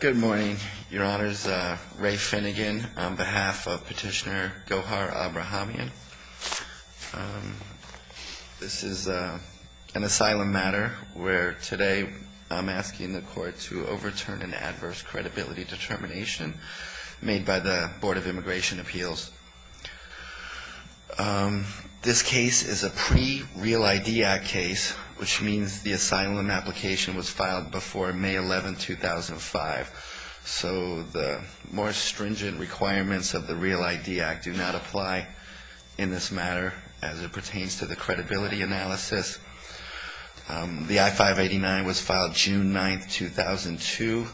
Good morning, Your Honors. Ray Finnegan on behalf of Petitioner Gohar Abrahamyan. This is an asylum matter where today I'm asking the court to overturn an adverse credibility determination made by the Board of Immigration Appeals. This case is a pre-Real ID Act case, which means the asylum application was filed before May 11, 2005. So the more stringent requirements of the Real ID Act do not apply in this matter as it pertains to the credibility analysis. The I-589 was filed June 9, 2002,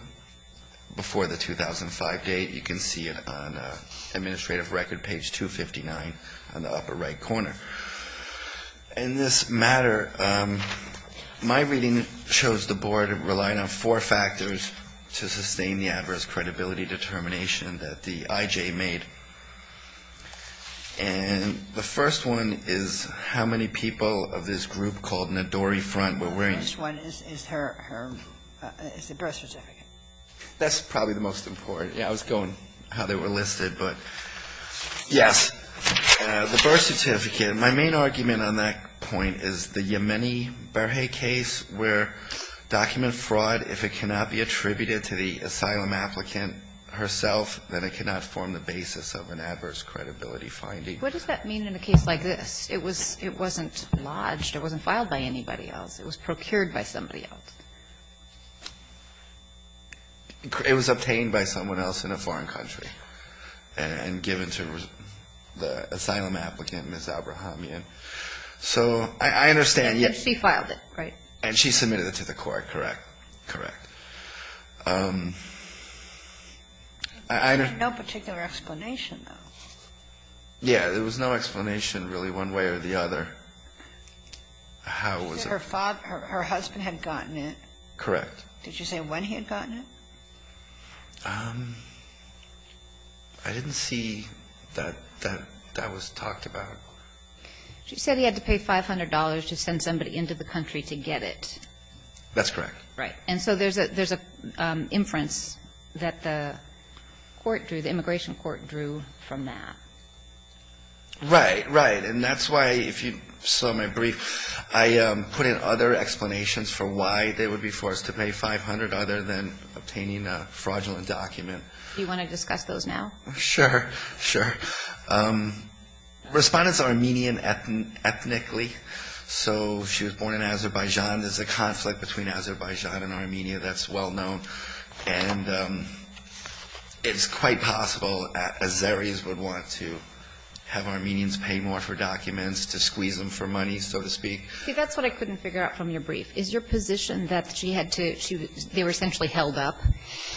before the 2005 date. You can see it on Administrative Record, page 259, in the upper right corner. In this matter, my reading shows the Board relying on four factors to sustain the adverse credibility determination that the IJ made. And the first one is how many people of this group called Nadori Front were wearing ---- The first one is her ---- is the birth certificate. That's probably the most important. Yeah. I was going how they were listed, but, yes. The birth certificate, my main argument on that point is the Yemeni Berhe case, where document fraud, if it cannot be attributed to the asylum applicant herself, then it cannot form the basis of an adverse credibility finding. What does that mean in a case like this? It wasn't lodged. It wasn't filed by anybody else. It was procured by somebody else. It was obtained by someone else in a foreign country and given to the asylum applicant, Ms. Abrahamian. So I understand ---- And she filed it, right? And she submitted it to the court, correct. Correct. I don't ---- There's no particular explanation, though. Yeah. There was no explanation, really, one way or the other. How was it ---- Her father ---- her husband had gotten it. Correct. Did you say when he had gotten it? I didn't see that that was talked about. She said he had to pay $500 to send somebody into the country to get it. That's correct. Right. And so there's an inference that the court drew, the immigration court drew from that. Right. Right. And that's why, if you saw my brief, I put in other explanations for why they would be forced to pay $500 other than obtaining a fraudulent document. Do you want to discuss those now? Sure. Sure. Respondents are Armenian ethnically. So she was born in Azerbaijan. There's a conflict between Azerbaijan and Armenia that's well known. And it's quite possible Azeris would want to have Armenians pay more for documents to squeeze them for money, so to speak. See, that's what I couldn't figure out from your brief. Is your position that she had to ---- they were essentially held up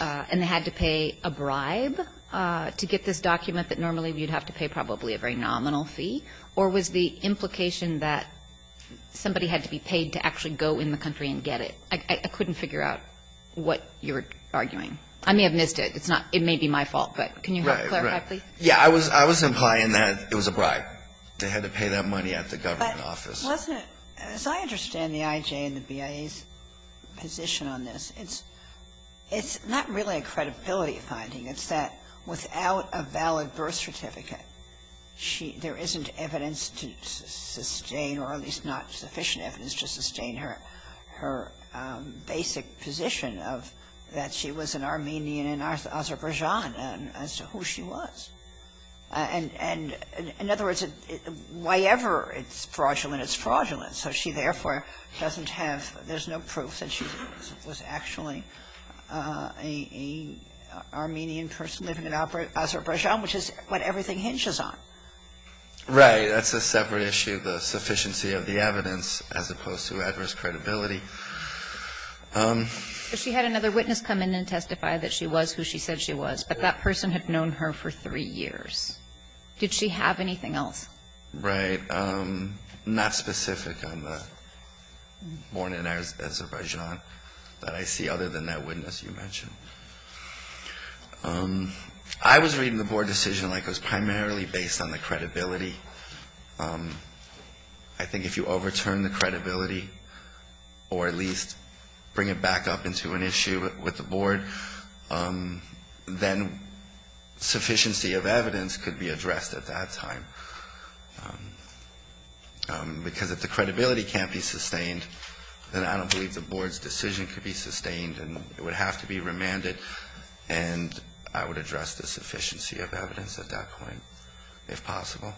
and they had to pay a bribe to get this document that normally you'd have to pay probably a very nominal fee? Or was the implication that somebody had to be paid to actually go in the country and get it? I couldn't figure out what you're arguing. I may have missed it. It's not ---- it may be my fault, but can you help clarify, please? Right. Right. Yeah. I was implying that it was a bribe. They had to pay that money at the government office. But wasn't it ---- as I understand the IJ and the BIA's position on this, it's not really a credibility finding. It's that without a valid birth certificate, there isn't evidence to sustain or at least not sufficient evidence to sustain her basic position of that she was an Armenian in Azerbaijan as to who she was. And in other words, whyever it's fraudulent, it's fraudulent. So she therefore doesn't have ---- there's no proof that she was actually an Armenian person living in Azerbaijan, which is what everything hinges on. Right. That's a separate issue, the sufficiency of the evidence as opposed to adverse credibility. But she had another witness come in and testify that she was who she said she was. But that person had known her for three years. Did she have anything else? Right. Not specific on the born in Azerbaijan that I see other than that witness you mentioned. I was reading the board decision like it was primarily based on the credibility. I think if you overturn the credibility or at least bring it back up into an issue with the board, then sufficiency of evidence could be addressed at that time. Because if the credibility can't be sustained, then I don't believe the board's decision could be And I would address the sufficiency of evidence at that point if possible.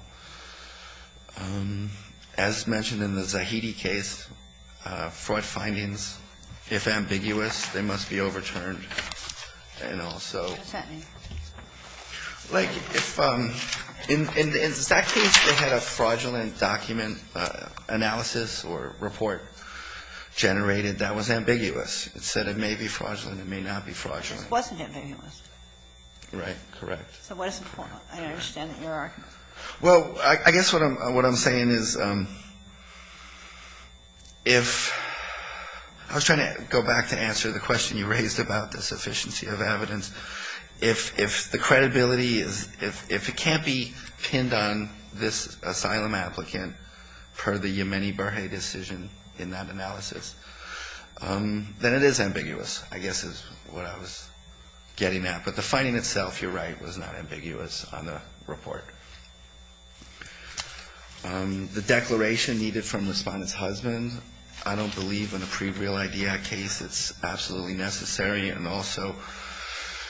As mentioned in the Zahidi case, fraud findings, if ambiguous, they must be overturned. And also, like if in that case, they had a fraudulent document analysis or report generated that was ambiguous. It said it may be fraudulent, it may not be fraudulent. It wasn't ambiguous. Right. Correct. So what is the point? I understand that you're arguing. Well, I guess what I'm saying is if – I was trying to go back to answer the question you raised about the sufficiency of evidence. If the credibility is – if it can't be pinned on this asylum applicant per the Yemeni-Berhe decision in that analysis, then it is ambiguous, I guess is what I was getting at. But the finding itself, you're right, was not ambiguous on the report. The declaration needed from the respondent's husband, I don't believe in a pre-Real ID Act case. It's absolutely necessary. And also,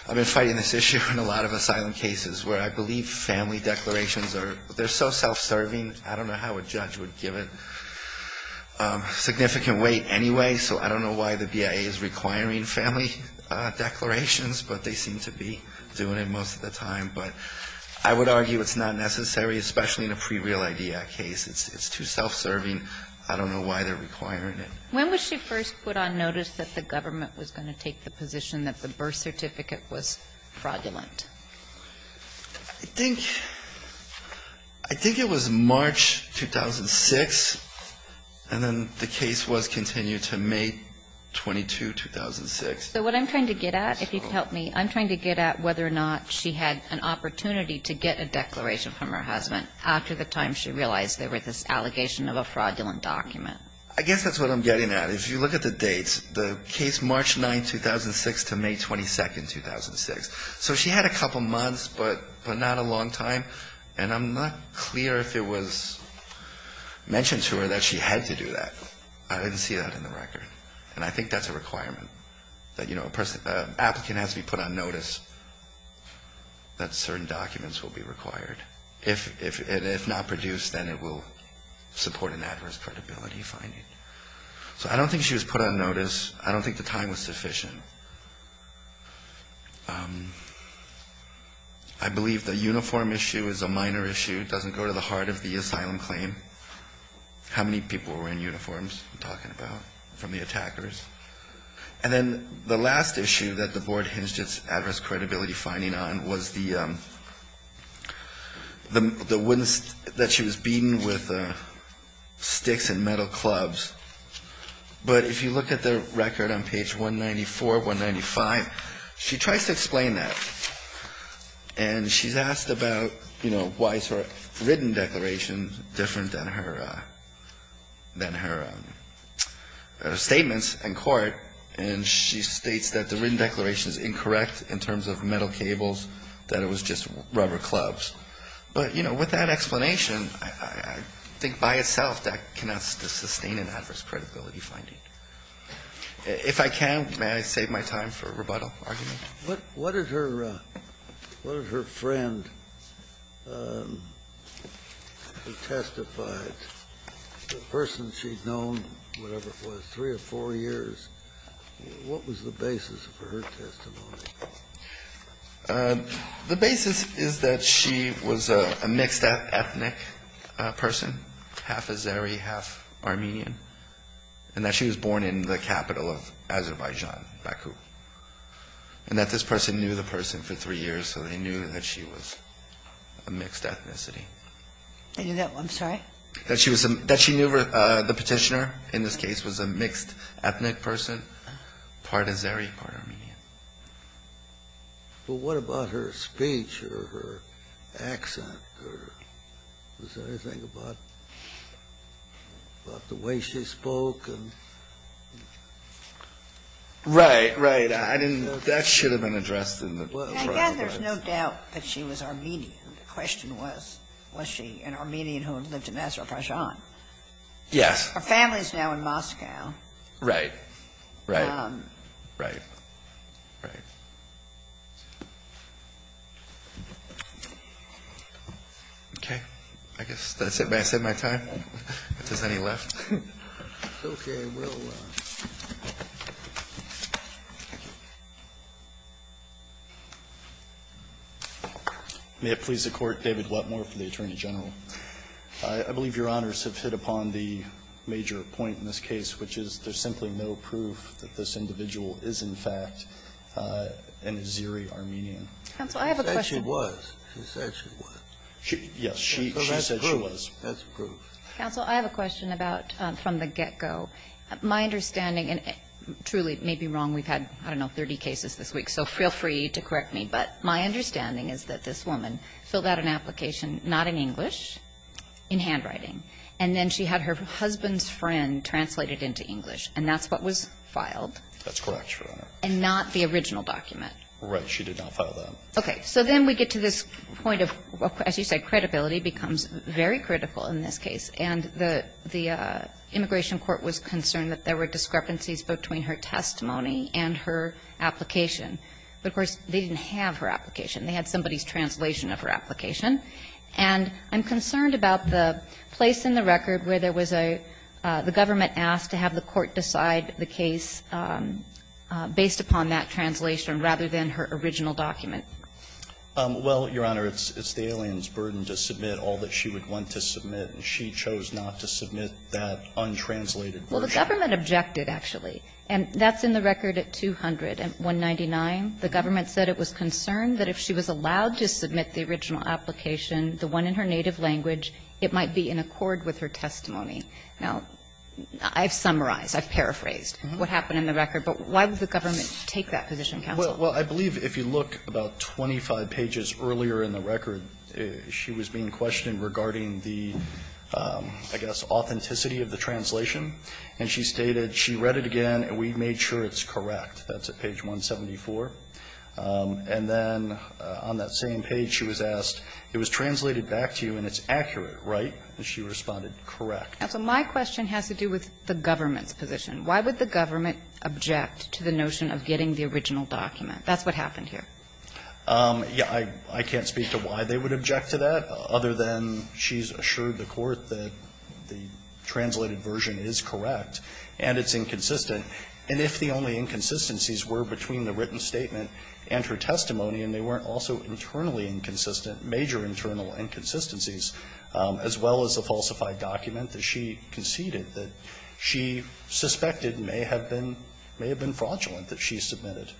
I've been fighting this issue in a lot of asylum cases where I believe family declarations are – they're so self-serving. I don't know how a judge would give it significant weight anyway, so I don't know why the BIA is requiring family declarations, but they seem to be doing it most of the time. But I would argue it's not necessary, especially in a pre-Real ID Act case. It's too self-serving. I don't know why they're requiring it. When was she first put on notice that the government was going to take the position that the birth certificate was fraudulent? I think it was March 2006, and then the case was continued to May 22, 2006. So what I'm trying to get at, if you could help me, I'm trying to get at whether or not she had an opportunity to get a declaration from her husband after the time she realized there was this allegation of a fraudulent document. I guess that's what I'm getting at. If you look at the dates, the case March 9, 2006 to May 22, 2006. So she had a couple months, but not a long time. And I'm not clear if it was mentioned to her that she had to do that. I didn't see that in the record. And I think that's a requirement, that, you know, an applicant has to be put on notice that certain documents will be required. If not produced, then it will support an adverse credibility finding. So I don't think she was put on notice. I don't think the time was sufficient. I believe the uniform issue is a minor issue. It doesn't go to the heart of the asylum claim. How many people were in uniforms I'm talking about from the attackers? And then the last issue that the board hinged its adverse credibility finding on was the, the, the, that she was beaten with sticks and metal clubs. But if you look at the record on page 194, 195, she tries to explain that. And she's asked about, you know, why is her written declaration different than her, than her statements in court. And she states that the written declaration is incorrect in terms of metal cables, that it was just rubber clubs. But, you know, with that explanation, I think by itself that cannot sustain an adverse credibility finding. If I can, may I save my time for rebuttal argument? Kennedy, what did her, what did her friend who testified, the person she'd known, whatever it was, three or four years, what was the basis for her testimony? The basis is that she was a mixed ethnic person, half Azeri, half Armenian. And that she was born in the capital of Azerbaijan, Baku. And that this person knew the person for three years, so they knew that she was a mixed ethnicity. I knew that one, sorry? That she was, that she knew the petitioner in this case was a mixed ethnic person, part Azeri, part Armenian. But what about her speech or her accent or was there anything about, about the way she spoke and? Right, right. I didn't, that should have been addressed in the trial. I guess there's no doubt that she was Armenian. The question was, was she an Armenian who had lived in Azerbaijan? Yes. Her family's now in Moscow. Right. Right. Right. Right. Okay. I guess that's it. May I set my time? If there's any left. Okay. We'll. May it please the Court. David Whatmore for the Attorney General. I, I believe Your Honors have hit upon the major point in this case, which is there's simply no proof that this individual is, in fact, an Armenian. Counsel, I have a question. She said she was. She said she was. Yes. She said she was. Because that's proof. That's proof. Counsel, I have a question about, from the get-go. My understanding, and truly may be wrong, we've had, I don't know, 30 cases this week, so feel free to correct me. But my understanding is that this woman filled out an application, not in English, in handwriting. And then she had her husband's friend translate it into English. Thank you. Thank you. Thank you. Thank you. Thank you. Thank you. Thank you. Thank you. Thank you. Thank you. Thank you. You summarize the individual, when she signed her application and only provided the authorization to write it in Word and not the original document? Right, she did not file that. Okay. So then we get to this point of, as you said, credibility becomes very critical in this case. And the immigration court was concerned that there were discrepancies between her testimony and her application. But, of course, they didn't have her application. They had somebody's translation of her application. And I'm concerned about the place in the record where there was a the government asked to have the court decide the case based upon that translation rather than her original document. Well, Your Honor, it's the alien's burden to submit all that she would want to submit. She chose not to submit that untranslated version. Well, the government objected, actually. And that's in the record at 200 and 199. The government said it was concerned that if she was allowed to submit the original application, the one in her native language, it might be in accord with her testimony. Now, I've summarized, I've paraphrased what happened in the record. But why would the government take that position, counsel? Well, I believe if you look about 25 pages earlier in the record, she was being questioned regarding the, I guess, authenticity of the translation. And she stated she read it again and we made sure it's correct. That's at page 174. And then on that same page, she was asked, it was translated back to you and it's accurate, right? And she responded, correct. Counsel, my question has to do with the government's position. Why would the government object to the notion of getting the original document? That's what happened here. Yeah. I can't speak to why they would object to that other than she's assured the court that the translated version is correct and it's inconsistent. And if the only inconsistencies were between the written statement and her testimony, and they weren't also internally inconsistent, major internal inconsistencies, as well as a falsified document that she conceded that she suspected may have been fraudulent that she submitted,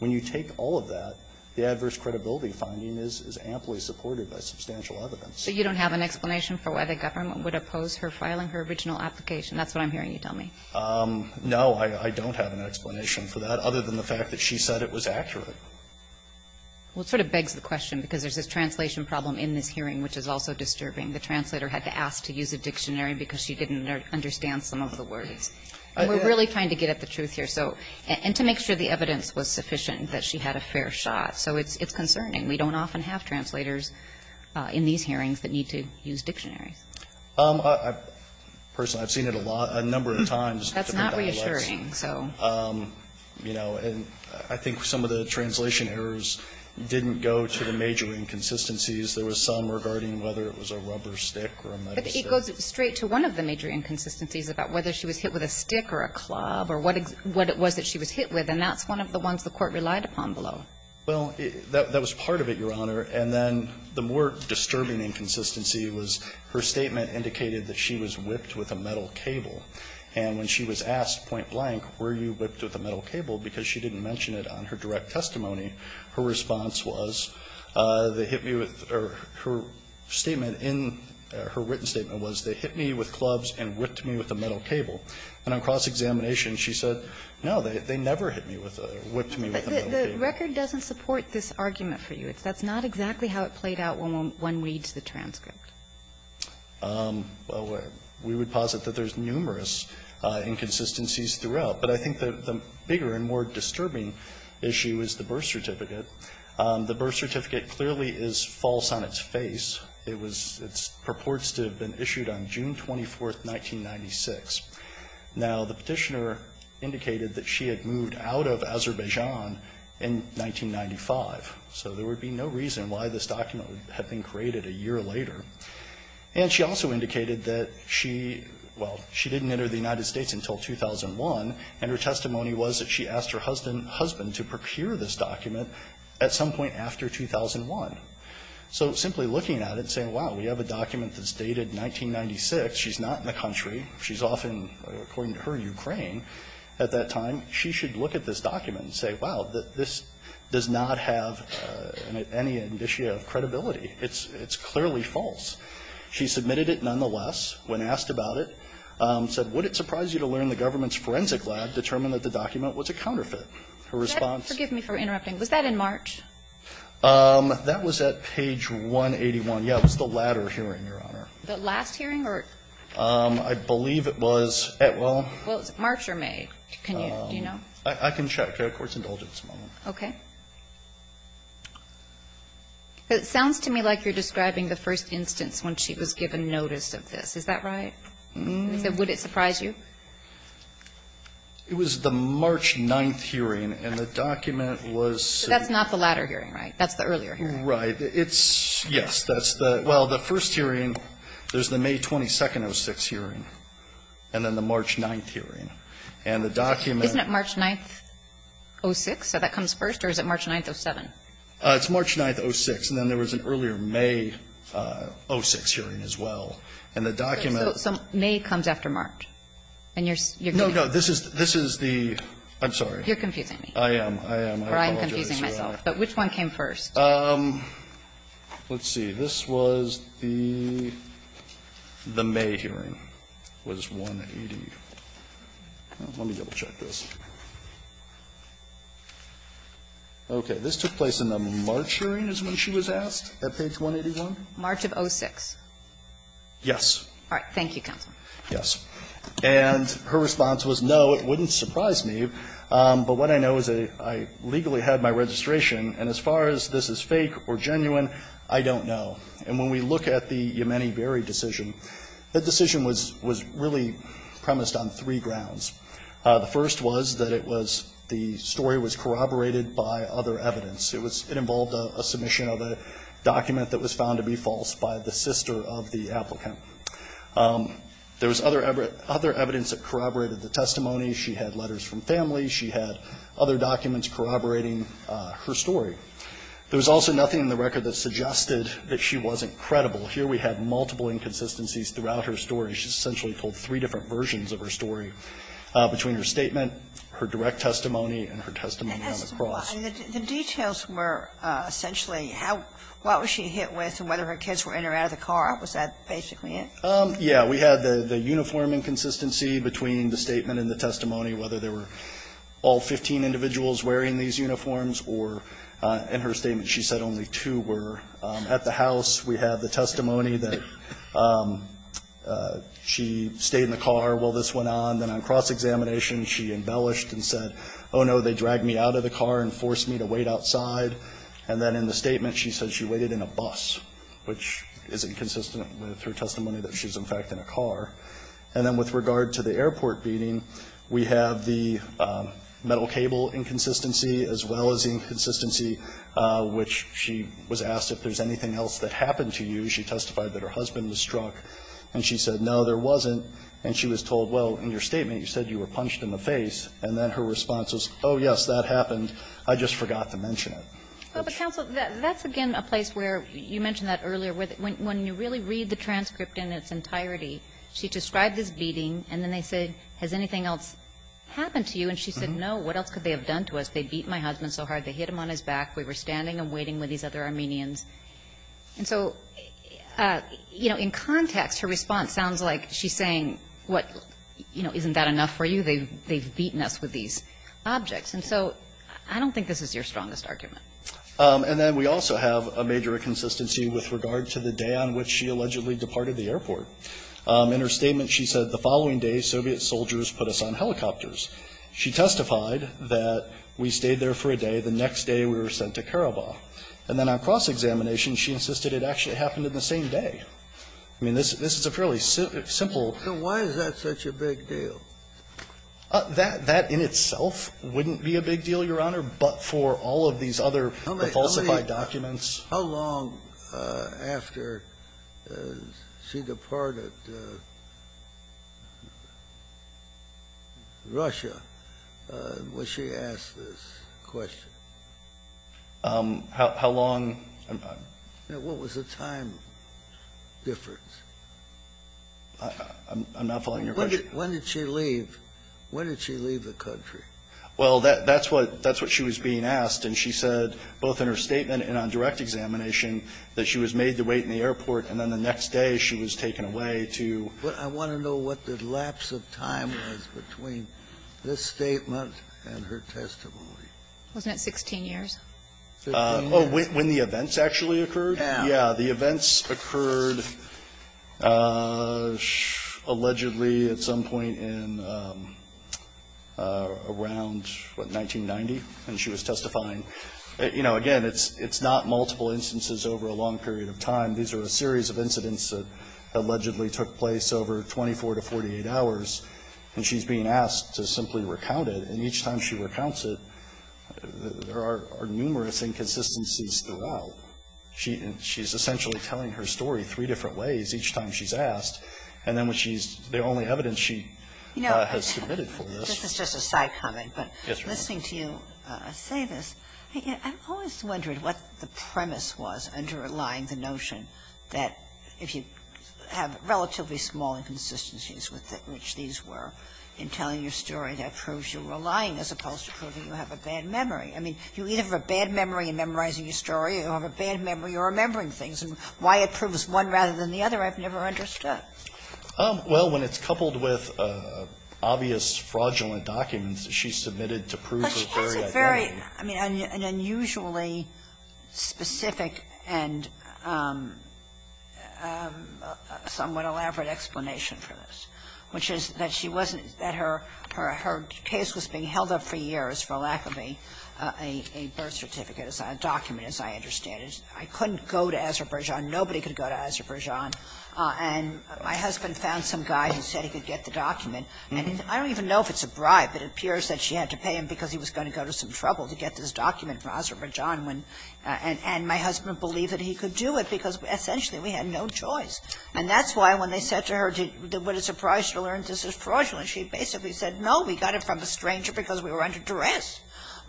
when you take all of that, the adverse credibility finding is amply supported by substantial evidence. So you don't have an explanation for why the government would oppose her filing her original application? That's what I'm hearing you tell me. No, I don't have an explanation for that other than the fact that she said it was accurate. Well, it sort of begs the question, because there's this translation problem in this hearing which is also disturbing. The translator had to ask to use a dictionary because she didn't understand some of the words. And we're really trying to get at the truth here, so, and to make sure the evidence was sufficient, that she had a fair shot. So it's concerning. We don't often have translators in these hearings that need to use dictionaries. Personally, I've seen it a lot, a number of times. That's not reassuring, so. You know, and I think some of the translation errors didn't go to the major inconsistencies. There was some regarding whether it was a rubber stick or a metal stick. But it goes straight to one of the major inconsistencies about whether she was hit with a stick or a club or what it was that she was hit with. And that's one of the ones the Court relied upon below. Well, that was part of it, Your Honor. And then the more disturbing inconsistency was her statement indicated that she was whipped with a metal cable. And when she was asked point blank, were you whipped with a metal cable, because she didn't mention it on her direct testimony, her response was, they hit me with or her statement in her written statement was, they hit me with clubs and whipped me with a metal cable. And on cross-examination, she said, no, they never hit me with a, whipped me with a metal cable. The record doesn't support this argument for you. That's not exactly how it played out when one reads the transcript. Well, we would posit that there's numerous inconsistencies throughout. But I think the bigger and more disturbing issue is the birth certificate. The birth certificate clearly is false on its face. It was, it purports to have been issued on June 24th, 1996. Now, the Petitioner indicated that she had moved out of Azerbaijan in 1995. So there would be no reason why this document had been created a year later. And she also indicated that she, well, she didn't enter the United States until 2001, and her testimony was that she asked her husband to procure this document at some point after 2001. So simply looking at it and saying, wow, we have a document that's dated 1996, she's not in the country, she's off in, according to her, Ukraine, at that time, she should look at this document and say, wow, this does not have any indicia of credibility. It's clearly false. She submitted it nonetheless. When asked about it, said, would it surprise you to learn the government's forensic lab determined that the document was a counterfeit? Her response? Could you forgive me for interrupting? Was that in March? That was at page 181. Yeah, it was the latter hearing, Your Honor. The last hearing, or? I believe it was at, well. Well, is it March or May? Can you, do you know? I can check. Our court's indulgent at this moment. Okay. It sounds to me like you're describing the first instance when she was given notice of this. Is that right? Would it surprise you? It was the March 9th hearing, and the document was. That's not the latter hearing, right? That's the earlier hearing. Right. It's, yes, that's the, well, the first hearing, there's the May 22nd of 2006 hearing, and then the March 9th hearing. And the document. Isn't it March 9th, 06, so that comes first, or is it March 9th, 07? It's March 9th, 06, and then there was an earlier May 06 hearing as well. And the document. So May comes after March. And you're. No, no, this is, this is the, I'm sorry. You're confusing me. I am, I am, I apologize, Your Honor. Or I'm confusing myself. But which one came first? Let's see. This was the May hearing. It was 180, well, let me double check this. Okay. This took place in the March hearing is when she was asked, at page 181? March of 06. Yes. All right. Thank you, counsel. Yes. And her response was, no, it wouldn't surprise me, but what I know is that I legally had my registration, and as far as this is fake or genuine, I don't know. And when we look at the Yemeni Berry decision, that decision was really premised on three grounds. The first was that it was, the story was corroborated by other evidence. It was, it involved a submission of a document that was found to be false by the sister of the applicant. There was other evidence that corroborated the testimony. She had letters from family. She had other documents corroborating her story. There was also nothing in the record that suggested that she wasn't credible. Here we have multiple inconsistencies throughout her story. She essentially told three different versions of her story between her statement, her direct testimony, and her testimony on the cross. The details were essentially how, what was she hit with and whether her kids were in or out of the car. Was that basically it? We had the uniform inconsistency between the statement and the testimony, whether there were all 15 individuals wearing these uniforms or, in her statement, she said only two were at the house. We have the testimony that she stayed in the car while this went on. Then on cross-examination, she embellished and said, oh no, they dragged me out of the car and forced me to wait outside. And then in the statement, she said she waited in a bus, which is inconsistent with her testimony that she's, in fact, in a car. And then with regard to the airport beating, we have the metal cable inconsistency as well as the inconsistency which she was asked if there's anything else that happened to you. She testified that her husband was struck and she said, no, there wasn't. And she was told, well, in your statement, you said you were punched in the face. And then her response was, oh, yes, that happened. I just forgot to mention it. Well, but counsel, that's again a place where you mentioned that earlier, where when you really read the transcript in its entirety, she described this beating. And then they said, has anything else happened to you? And she said, no, what else could they have done to us? They beat my husband so hard, they hit him on his back. We were standing and waiting with these other Armenians. And so in context, her response sounds like she's saying, isn't that enough for you? They've beaten us with these objects. And so I don't think this is your strongest argument. And then we also have a major inconsistency with regard to the day on which she allegedly departed the airport. In her statement, she said, the following day, Soviet soldiers put us on helicopters. She testified that we stayed there for a day. The next day, we were sent to Karabakh. And then on cross-examination, she insisted it actually happened in the same day. I mean, this is a fairly simple question. Scalia, so why is that such a big deal? That in itself wouldn't be a big deal, Your Honor. But for all of these other falsified documents? How long after she departed Russia was she asked this question? How long? What was the time difference? I'm not following your question. When did she leave the country? Well, that's what she was being asked. And she said, both in her statement and on direct examination, that she was made to wait in the airport, and then the next day she was taken away to the airport. But I want to know what the lapse of time was between this statement and her testimony. Wasn't it 16 years? Oh, when the events actually occurred? Yeah. Yeah, the events occurred allegedly at some point in around, what, 1990, and she was testifying. You know, again, it's not multiple instances over a long period of time. These are a series of incidents that allegedly took place over 24 to 48 hours. And she's being asked to simply recount it. And each time she recounts it, there are numerous inconsistencies throughout. She's essentially telling her story three different ways each time she's asked. And then when she's the only evidence she has submitted for this. You know, this is just a side comment, but listening to you say this, I've always wondered what the premise was underlying the notion that if you have relatively small inconsistencies which these were in telling your story, that proves you were lying as opposed to proving you have a bad memory. I mean, you either have a bad memory in memorizing your story or you have a bad memory in remembering things. And why it proves one rather than the other, I've never understood. Well, when it's coupled with obvious fraudulent documents, she submitted to prove her very identity. But she has a very, I mean, an unusually specific and somewhat elaborate explanation for this, which is that she wasn't, that her case was being held up for years, for lack of a birth certificate, a document, as I understand it. I couldn't go to Azerbaijan. Nobody could go to Azerbaijan. And my husband found some guy who said he could get the document. And I don't even know if it's a bribe. It appears that she had to pay him because he was going to go to some trouble to get this document from Azerbaijan when my husband believed that he could do it because essentially we had no choice. And that's why when they said to her, what a surprise to learn this is fraudulent, she basically said, no, we got it from a stranger because we were under duress.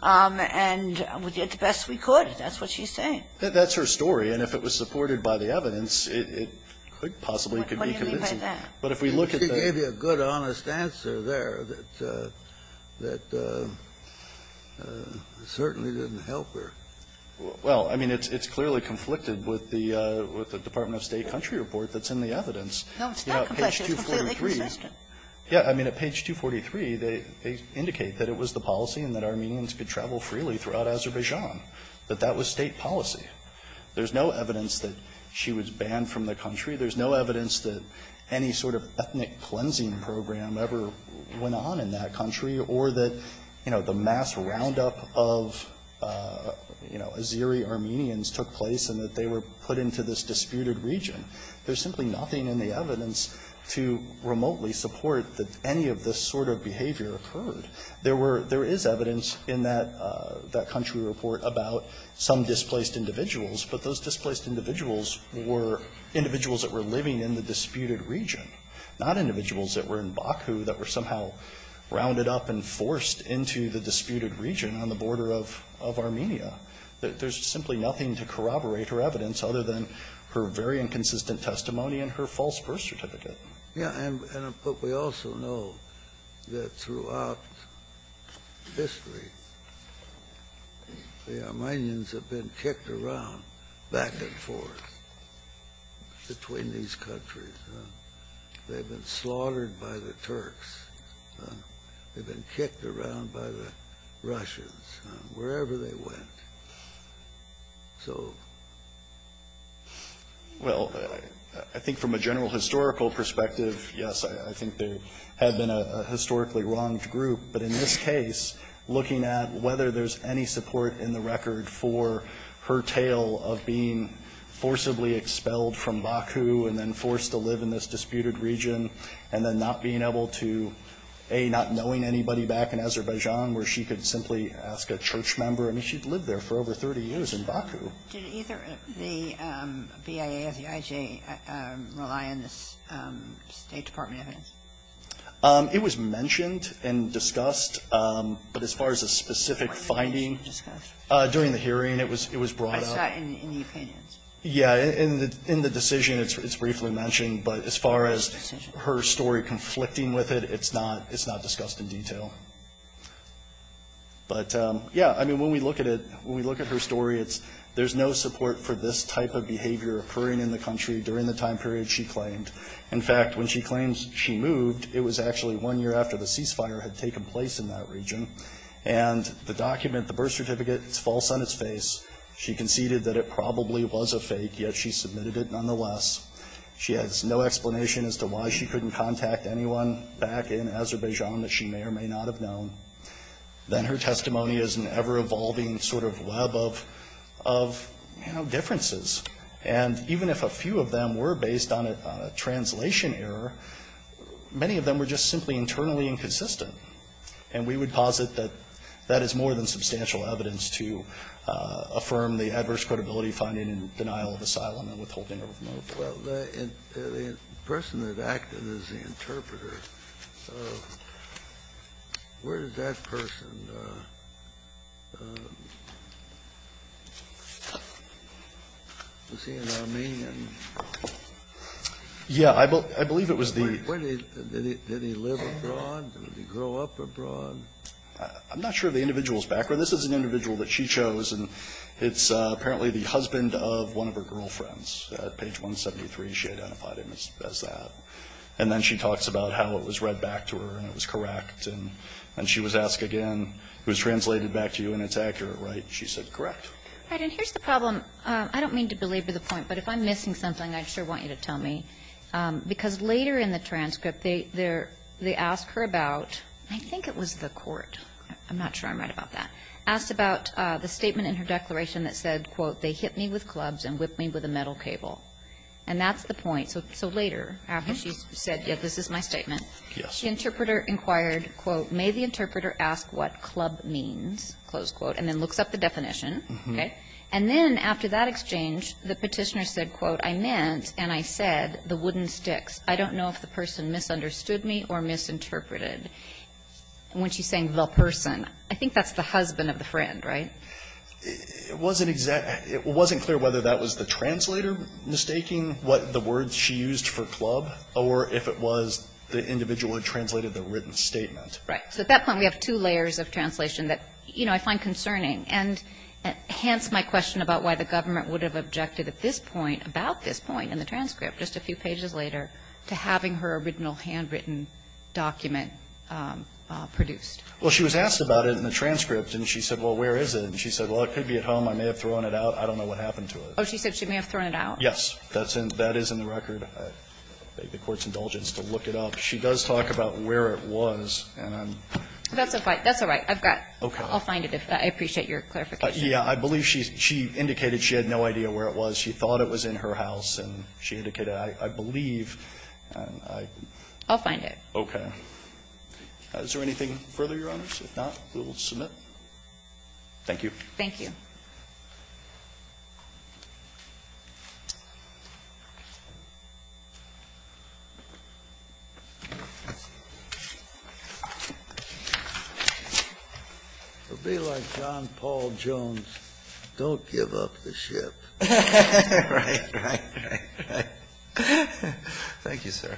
And we did the best we could. That's what she's saying. That's her story. And if it was supported by the evidence, it could possibly be convincing. But if we look at the other one, she gave you a good honest answer there that certainly didn't help her. Well, I mean, it's clearly conflicted with the Department of State country report that's in the evidence. No, it's not conflicted. It's completely consistent. Yeah, I mean, at page 243, they indicate that it was the policy and that Armenians could travel freely throughout Azerbaijan, that that was state policy. There's no evidence that she was banned from the country. There's no evidence that any sort of ethnic cleansing program ever went on in that country or that, you know, the mass roundup of, you know, Azeri Armenians took place and that they were put into this disputed region. There's simply nothing in the evidence to remotely support that any of this sort of behavior occurred. There were, there is evidence in that country report about some displaced individuals, but those displaced individuals were individuals that were living in the disputed region, not individuals that were in Baku that were somehow rounded up and forced into the disputed region on the border of Armenia. There's simply nothing to corroborate her evidence other than her very inconsistent testimony and her false birth certificate. Yeah, and, but we also know that throughout history, the Armenians have been kicked around back and forth between these countries. They've been slaughtered by the Turks. They've been kicked around by the Russians, wherever they went. So. Well, I think from a general historical perspective, yes, I think they had been a historically wronged group. But in this case, looking at whether there's any support in the record for her tale of being forcibly expelled from Baku and then forced to live in this disputed region and then not being able to, A, not knowing anybody back in Azerbaijan where she could simply ask a church member. I mean, she'd lived there for over 30 years in Baku. Did either the BIA or the IJ rely on this State Department evidence? It was mentioned and discussed, but as far as a specific finding during the hearing, it was brought up. I saw it in the opinions. Yeah, in the decision, it's briefly mentioned, but as far as her story conflicting with it, it's not discussed in detail. But yeah, I mean, when we look at it, when we look at her story, there's no support for this type of behavior occurring in the country during the time period she claimed. In fact, when she claims she moved, it was actually one year after the ceasefire had taken place in that region. And the document, the birth certificate, it's false on its face. She conceded that it probably was a fake, yet she submitted it nonetheless. She has no explanation as to why she couldn't contact anyone back in Azerbaijan that she may or may not have known. Then her testimony is an ever-evolving sort of web of, you know, differences. And even if a few of them were based on a translation error, many of them were just simply internally inconsistent. And we would posit that that is more than substantial evidence to affirm the adverse credibility finding in denial of asylum and withholding of a motive. Well, the person that acted as the interpreter, where did that person go? Was he an Armenian? Yeah. I believe it was the ---- Did he live abroad? Did he grow up abroad? I'm not sure of the individual's background. This is an individual that she chose, and it's apparently the husband of one of her girlfriend's, at page 173, she identified him as that. And then she talks about how it was read back to her and it was correct. And she was asked again, it was translated back to you and it's accurate, right? She said, correct. All right. And here's the problem. I don't mean to belabor the point, but if I'm missing something, I sure want you to tell me. Because later in the transcript, they ask her about, I think it was the court. I'm not sure I'm right about that. Asked about the statement in her declaration that said, quote, they hit me with clubs and whipped me with a metal cable. And that's the point. So later, after she said, yeah, this is my statement, the interpreter inquired, quote, may the interpreter ask what club means, close quote, and then looks up the definition, okay? And then after that exchange, the petitioner said, quote, I meant and I said the wooden sticks. I don't know if the person misunderstood me or misinterpreted. When she's saying the person, I think that's the husband of the friend, right? It wasn't clear whether that was the translator mistaking what the words she used for club or if it was the individual who translated the written statement. Right. So at that point, we have two layers of translation that, you know, I find concerning. And hence my question about why the government would have objected at this point, about this point in the transcript, just a few pages later, to having her original handwritten document produced. Well, she was asked about it in the transcript and she said, well, where is it? And she said, well, it could be at home. I may have thrown it out. I don't know what happened to it. Oh, she said she may have thrown it out. Yes, that is in the record. I beg the Court's indulgence to look it up. She does talk about where it was and I'm. That's all right. That's all right. I've got. Okay. I'll find it. I appreciate your clarification. Yeah, I believe she indicated she had no idea where it was. She thought it was in her house and she indicated, I believe, and I. I'll find it. Okay. Is there anything further, Your Honors? If not, we will submit. Thank you. Thank you. It will be like John Paul Jones, don't give up the ship. Right, right, right, right. Thank you, sir.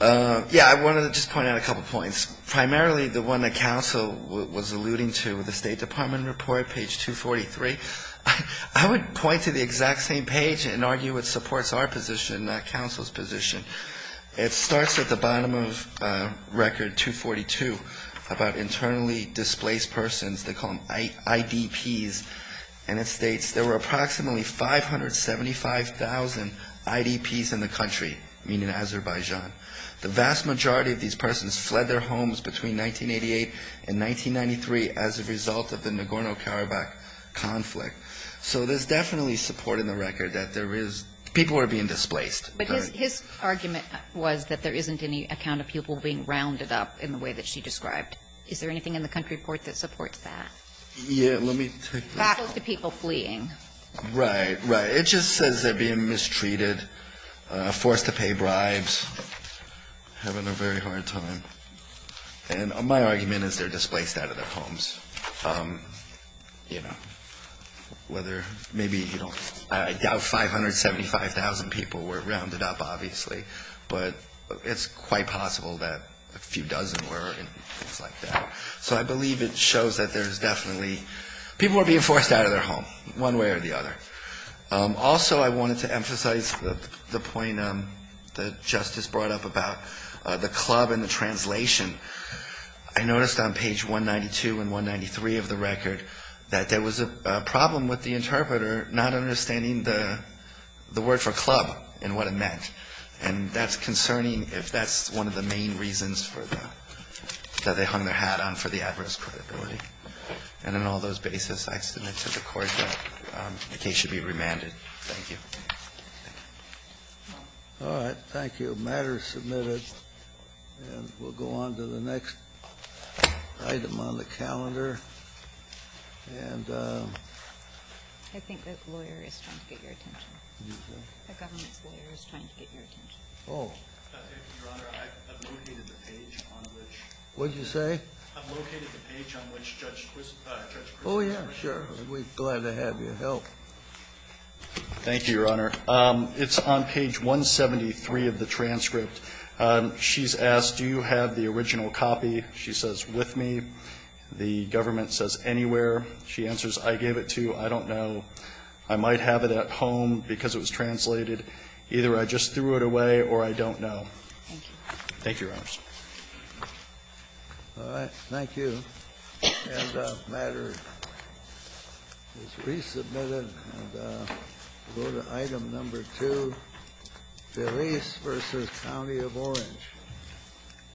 Yeah, I wanted to just point out a couple of points. Primarily, the one that counsel was alluding to with the State Department report, page 243. I would point to the exact same page and argue it supports our position, not counsel's position. It starts at the bottom of record 242 about internally displaced persons. They call them IDPs. And it states there were approximately 575,000 IDPs in the country, meaning Azerbaijan. The vast majority of these persons fled their homes between 1988 and 1993 as a result of the Nagorno-Karabakh conflict. So there's definitely support in the record that there is people are being displaced. But his argument was that there isn't any account of people being rounded up in the way that she described. Is there anything in the country report that supports that? Yeah, let me take this. Back to people fleeing. Right, right. It just says they're being mistreated, forced to pay bribes, having a very hard time. And my argument is they're displaced out of their homes. You know, whether, maybe, you know, I doubt 575,000 people were rounded up, obviously. But it's quite possible that a few dozen were and things like that. So I believe it shows that there's definitely people are being forced out of their home, one way or the other. Also, I wanted to emphasize the point that Justice brought up about the club and the translation. I noticed on page 192 and 193 of the record that there was a problem with the interpreter not understanding the word for club and what it meant. And that's concerning if that's one of the main reasons for the – that they hung their hat on for the adverse credibility. And on all those basis, I extend it to the Court that the case should be remanded. Thank you. All right. Thank you. The matter is submitted, and we'll go on to the next item on the calendar. And I think the lawyer is trying to get your attention. The government's lawyer is trying to get your attention. Oh. Your Honor, I've located the page on which – What did you say? I've located the page on which Judge Chris – Judge Chris – Oh, yeah, sure. We're glad to have your help. Thank you, Your Honor. It's on page 173 of the transcript. She's asked, do you have the original copy? She says, with me. The government says, anywhere. She answers, I gave it to you. I don't know. I might have it at home because it was translated. Either I just threw it away, or I don't know. Thank you, Your Honors. All right. Thank you. And the matter is resubmitted, and we'll go to item number two, Felice v. County of Orange.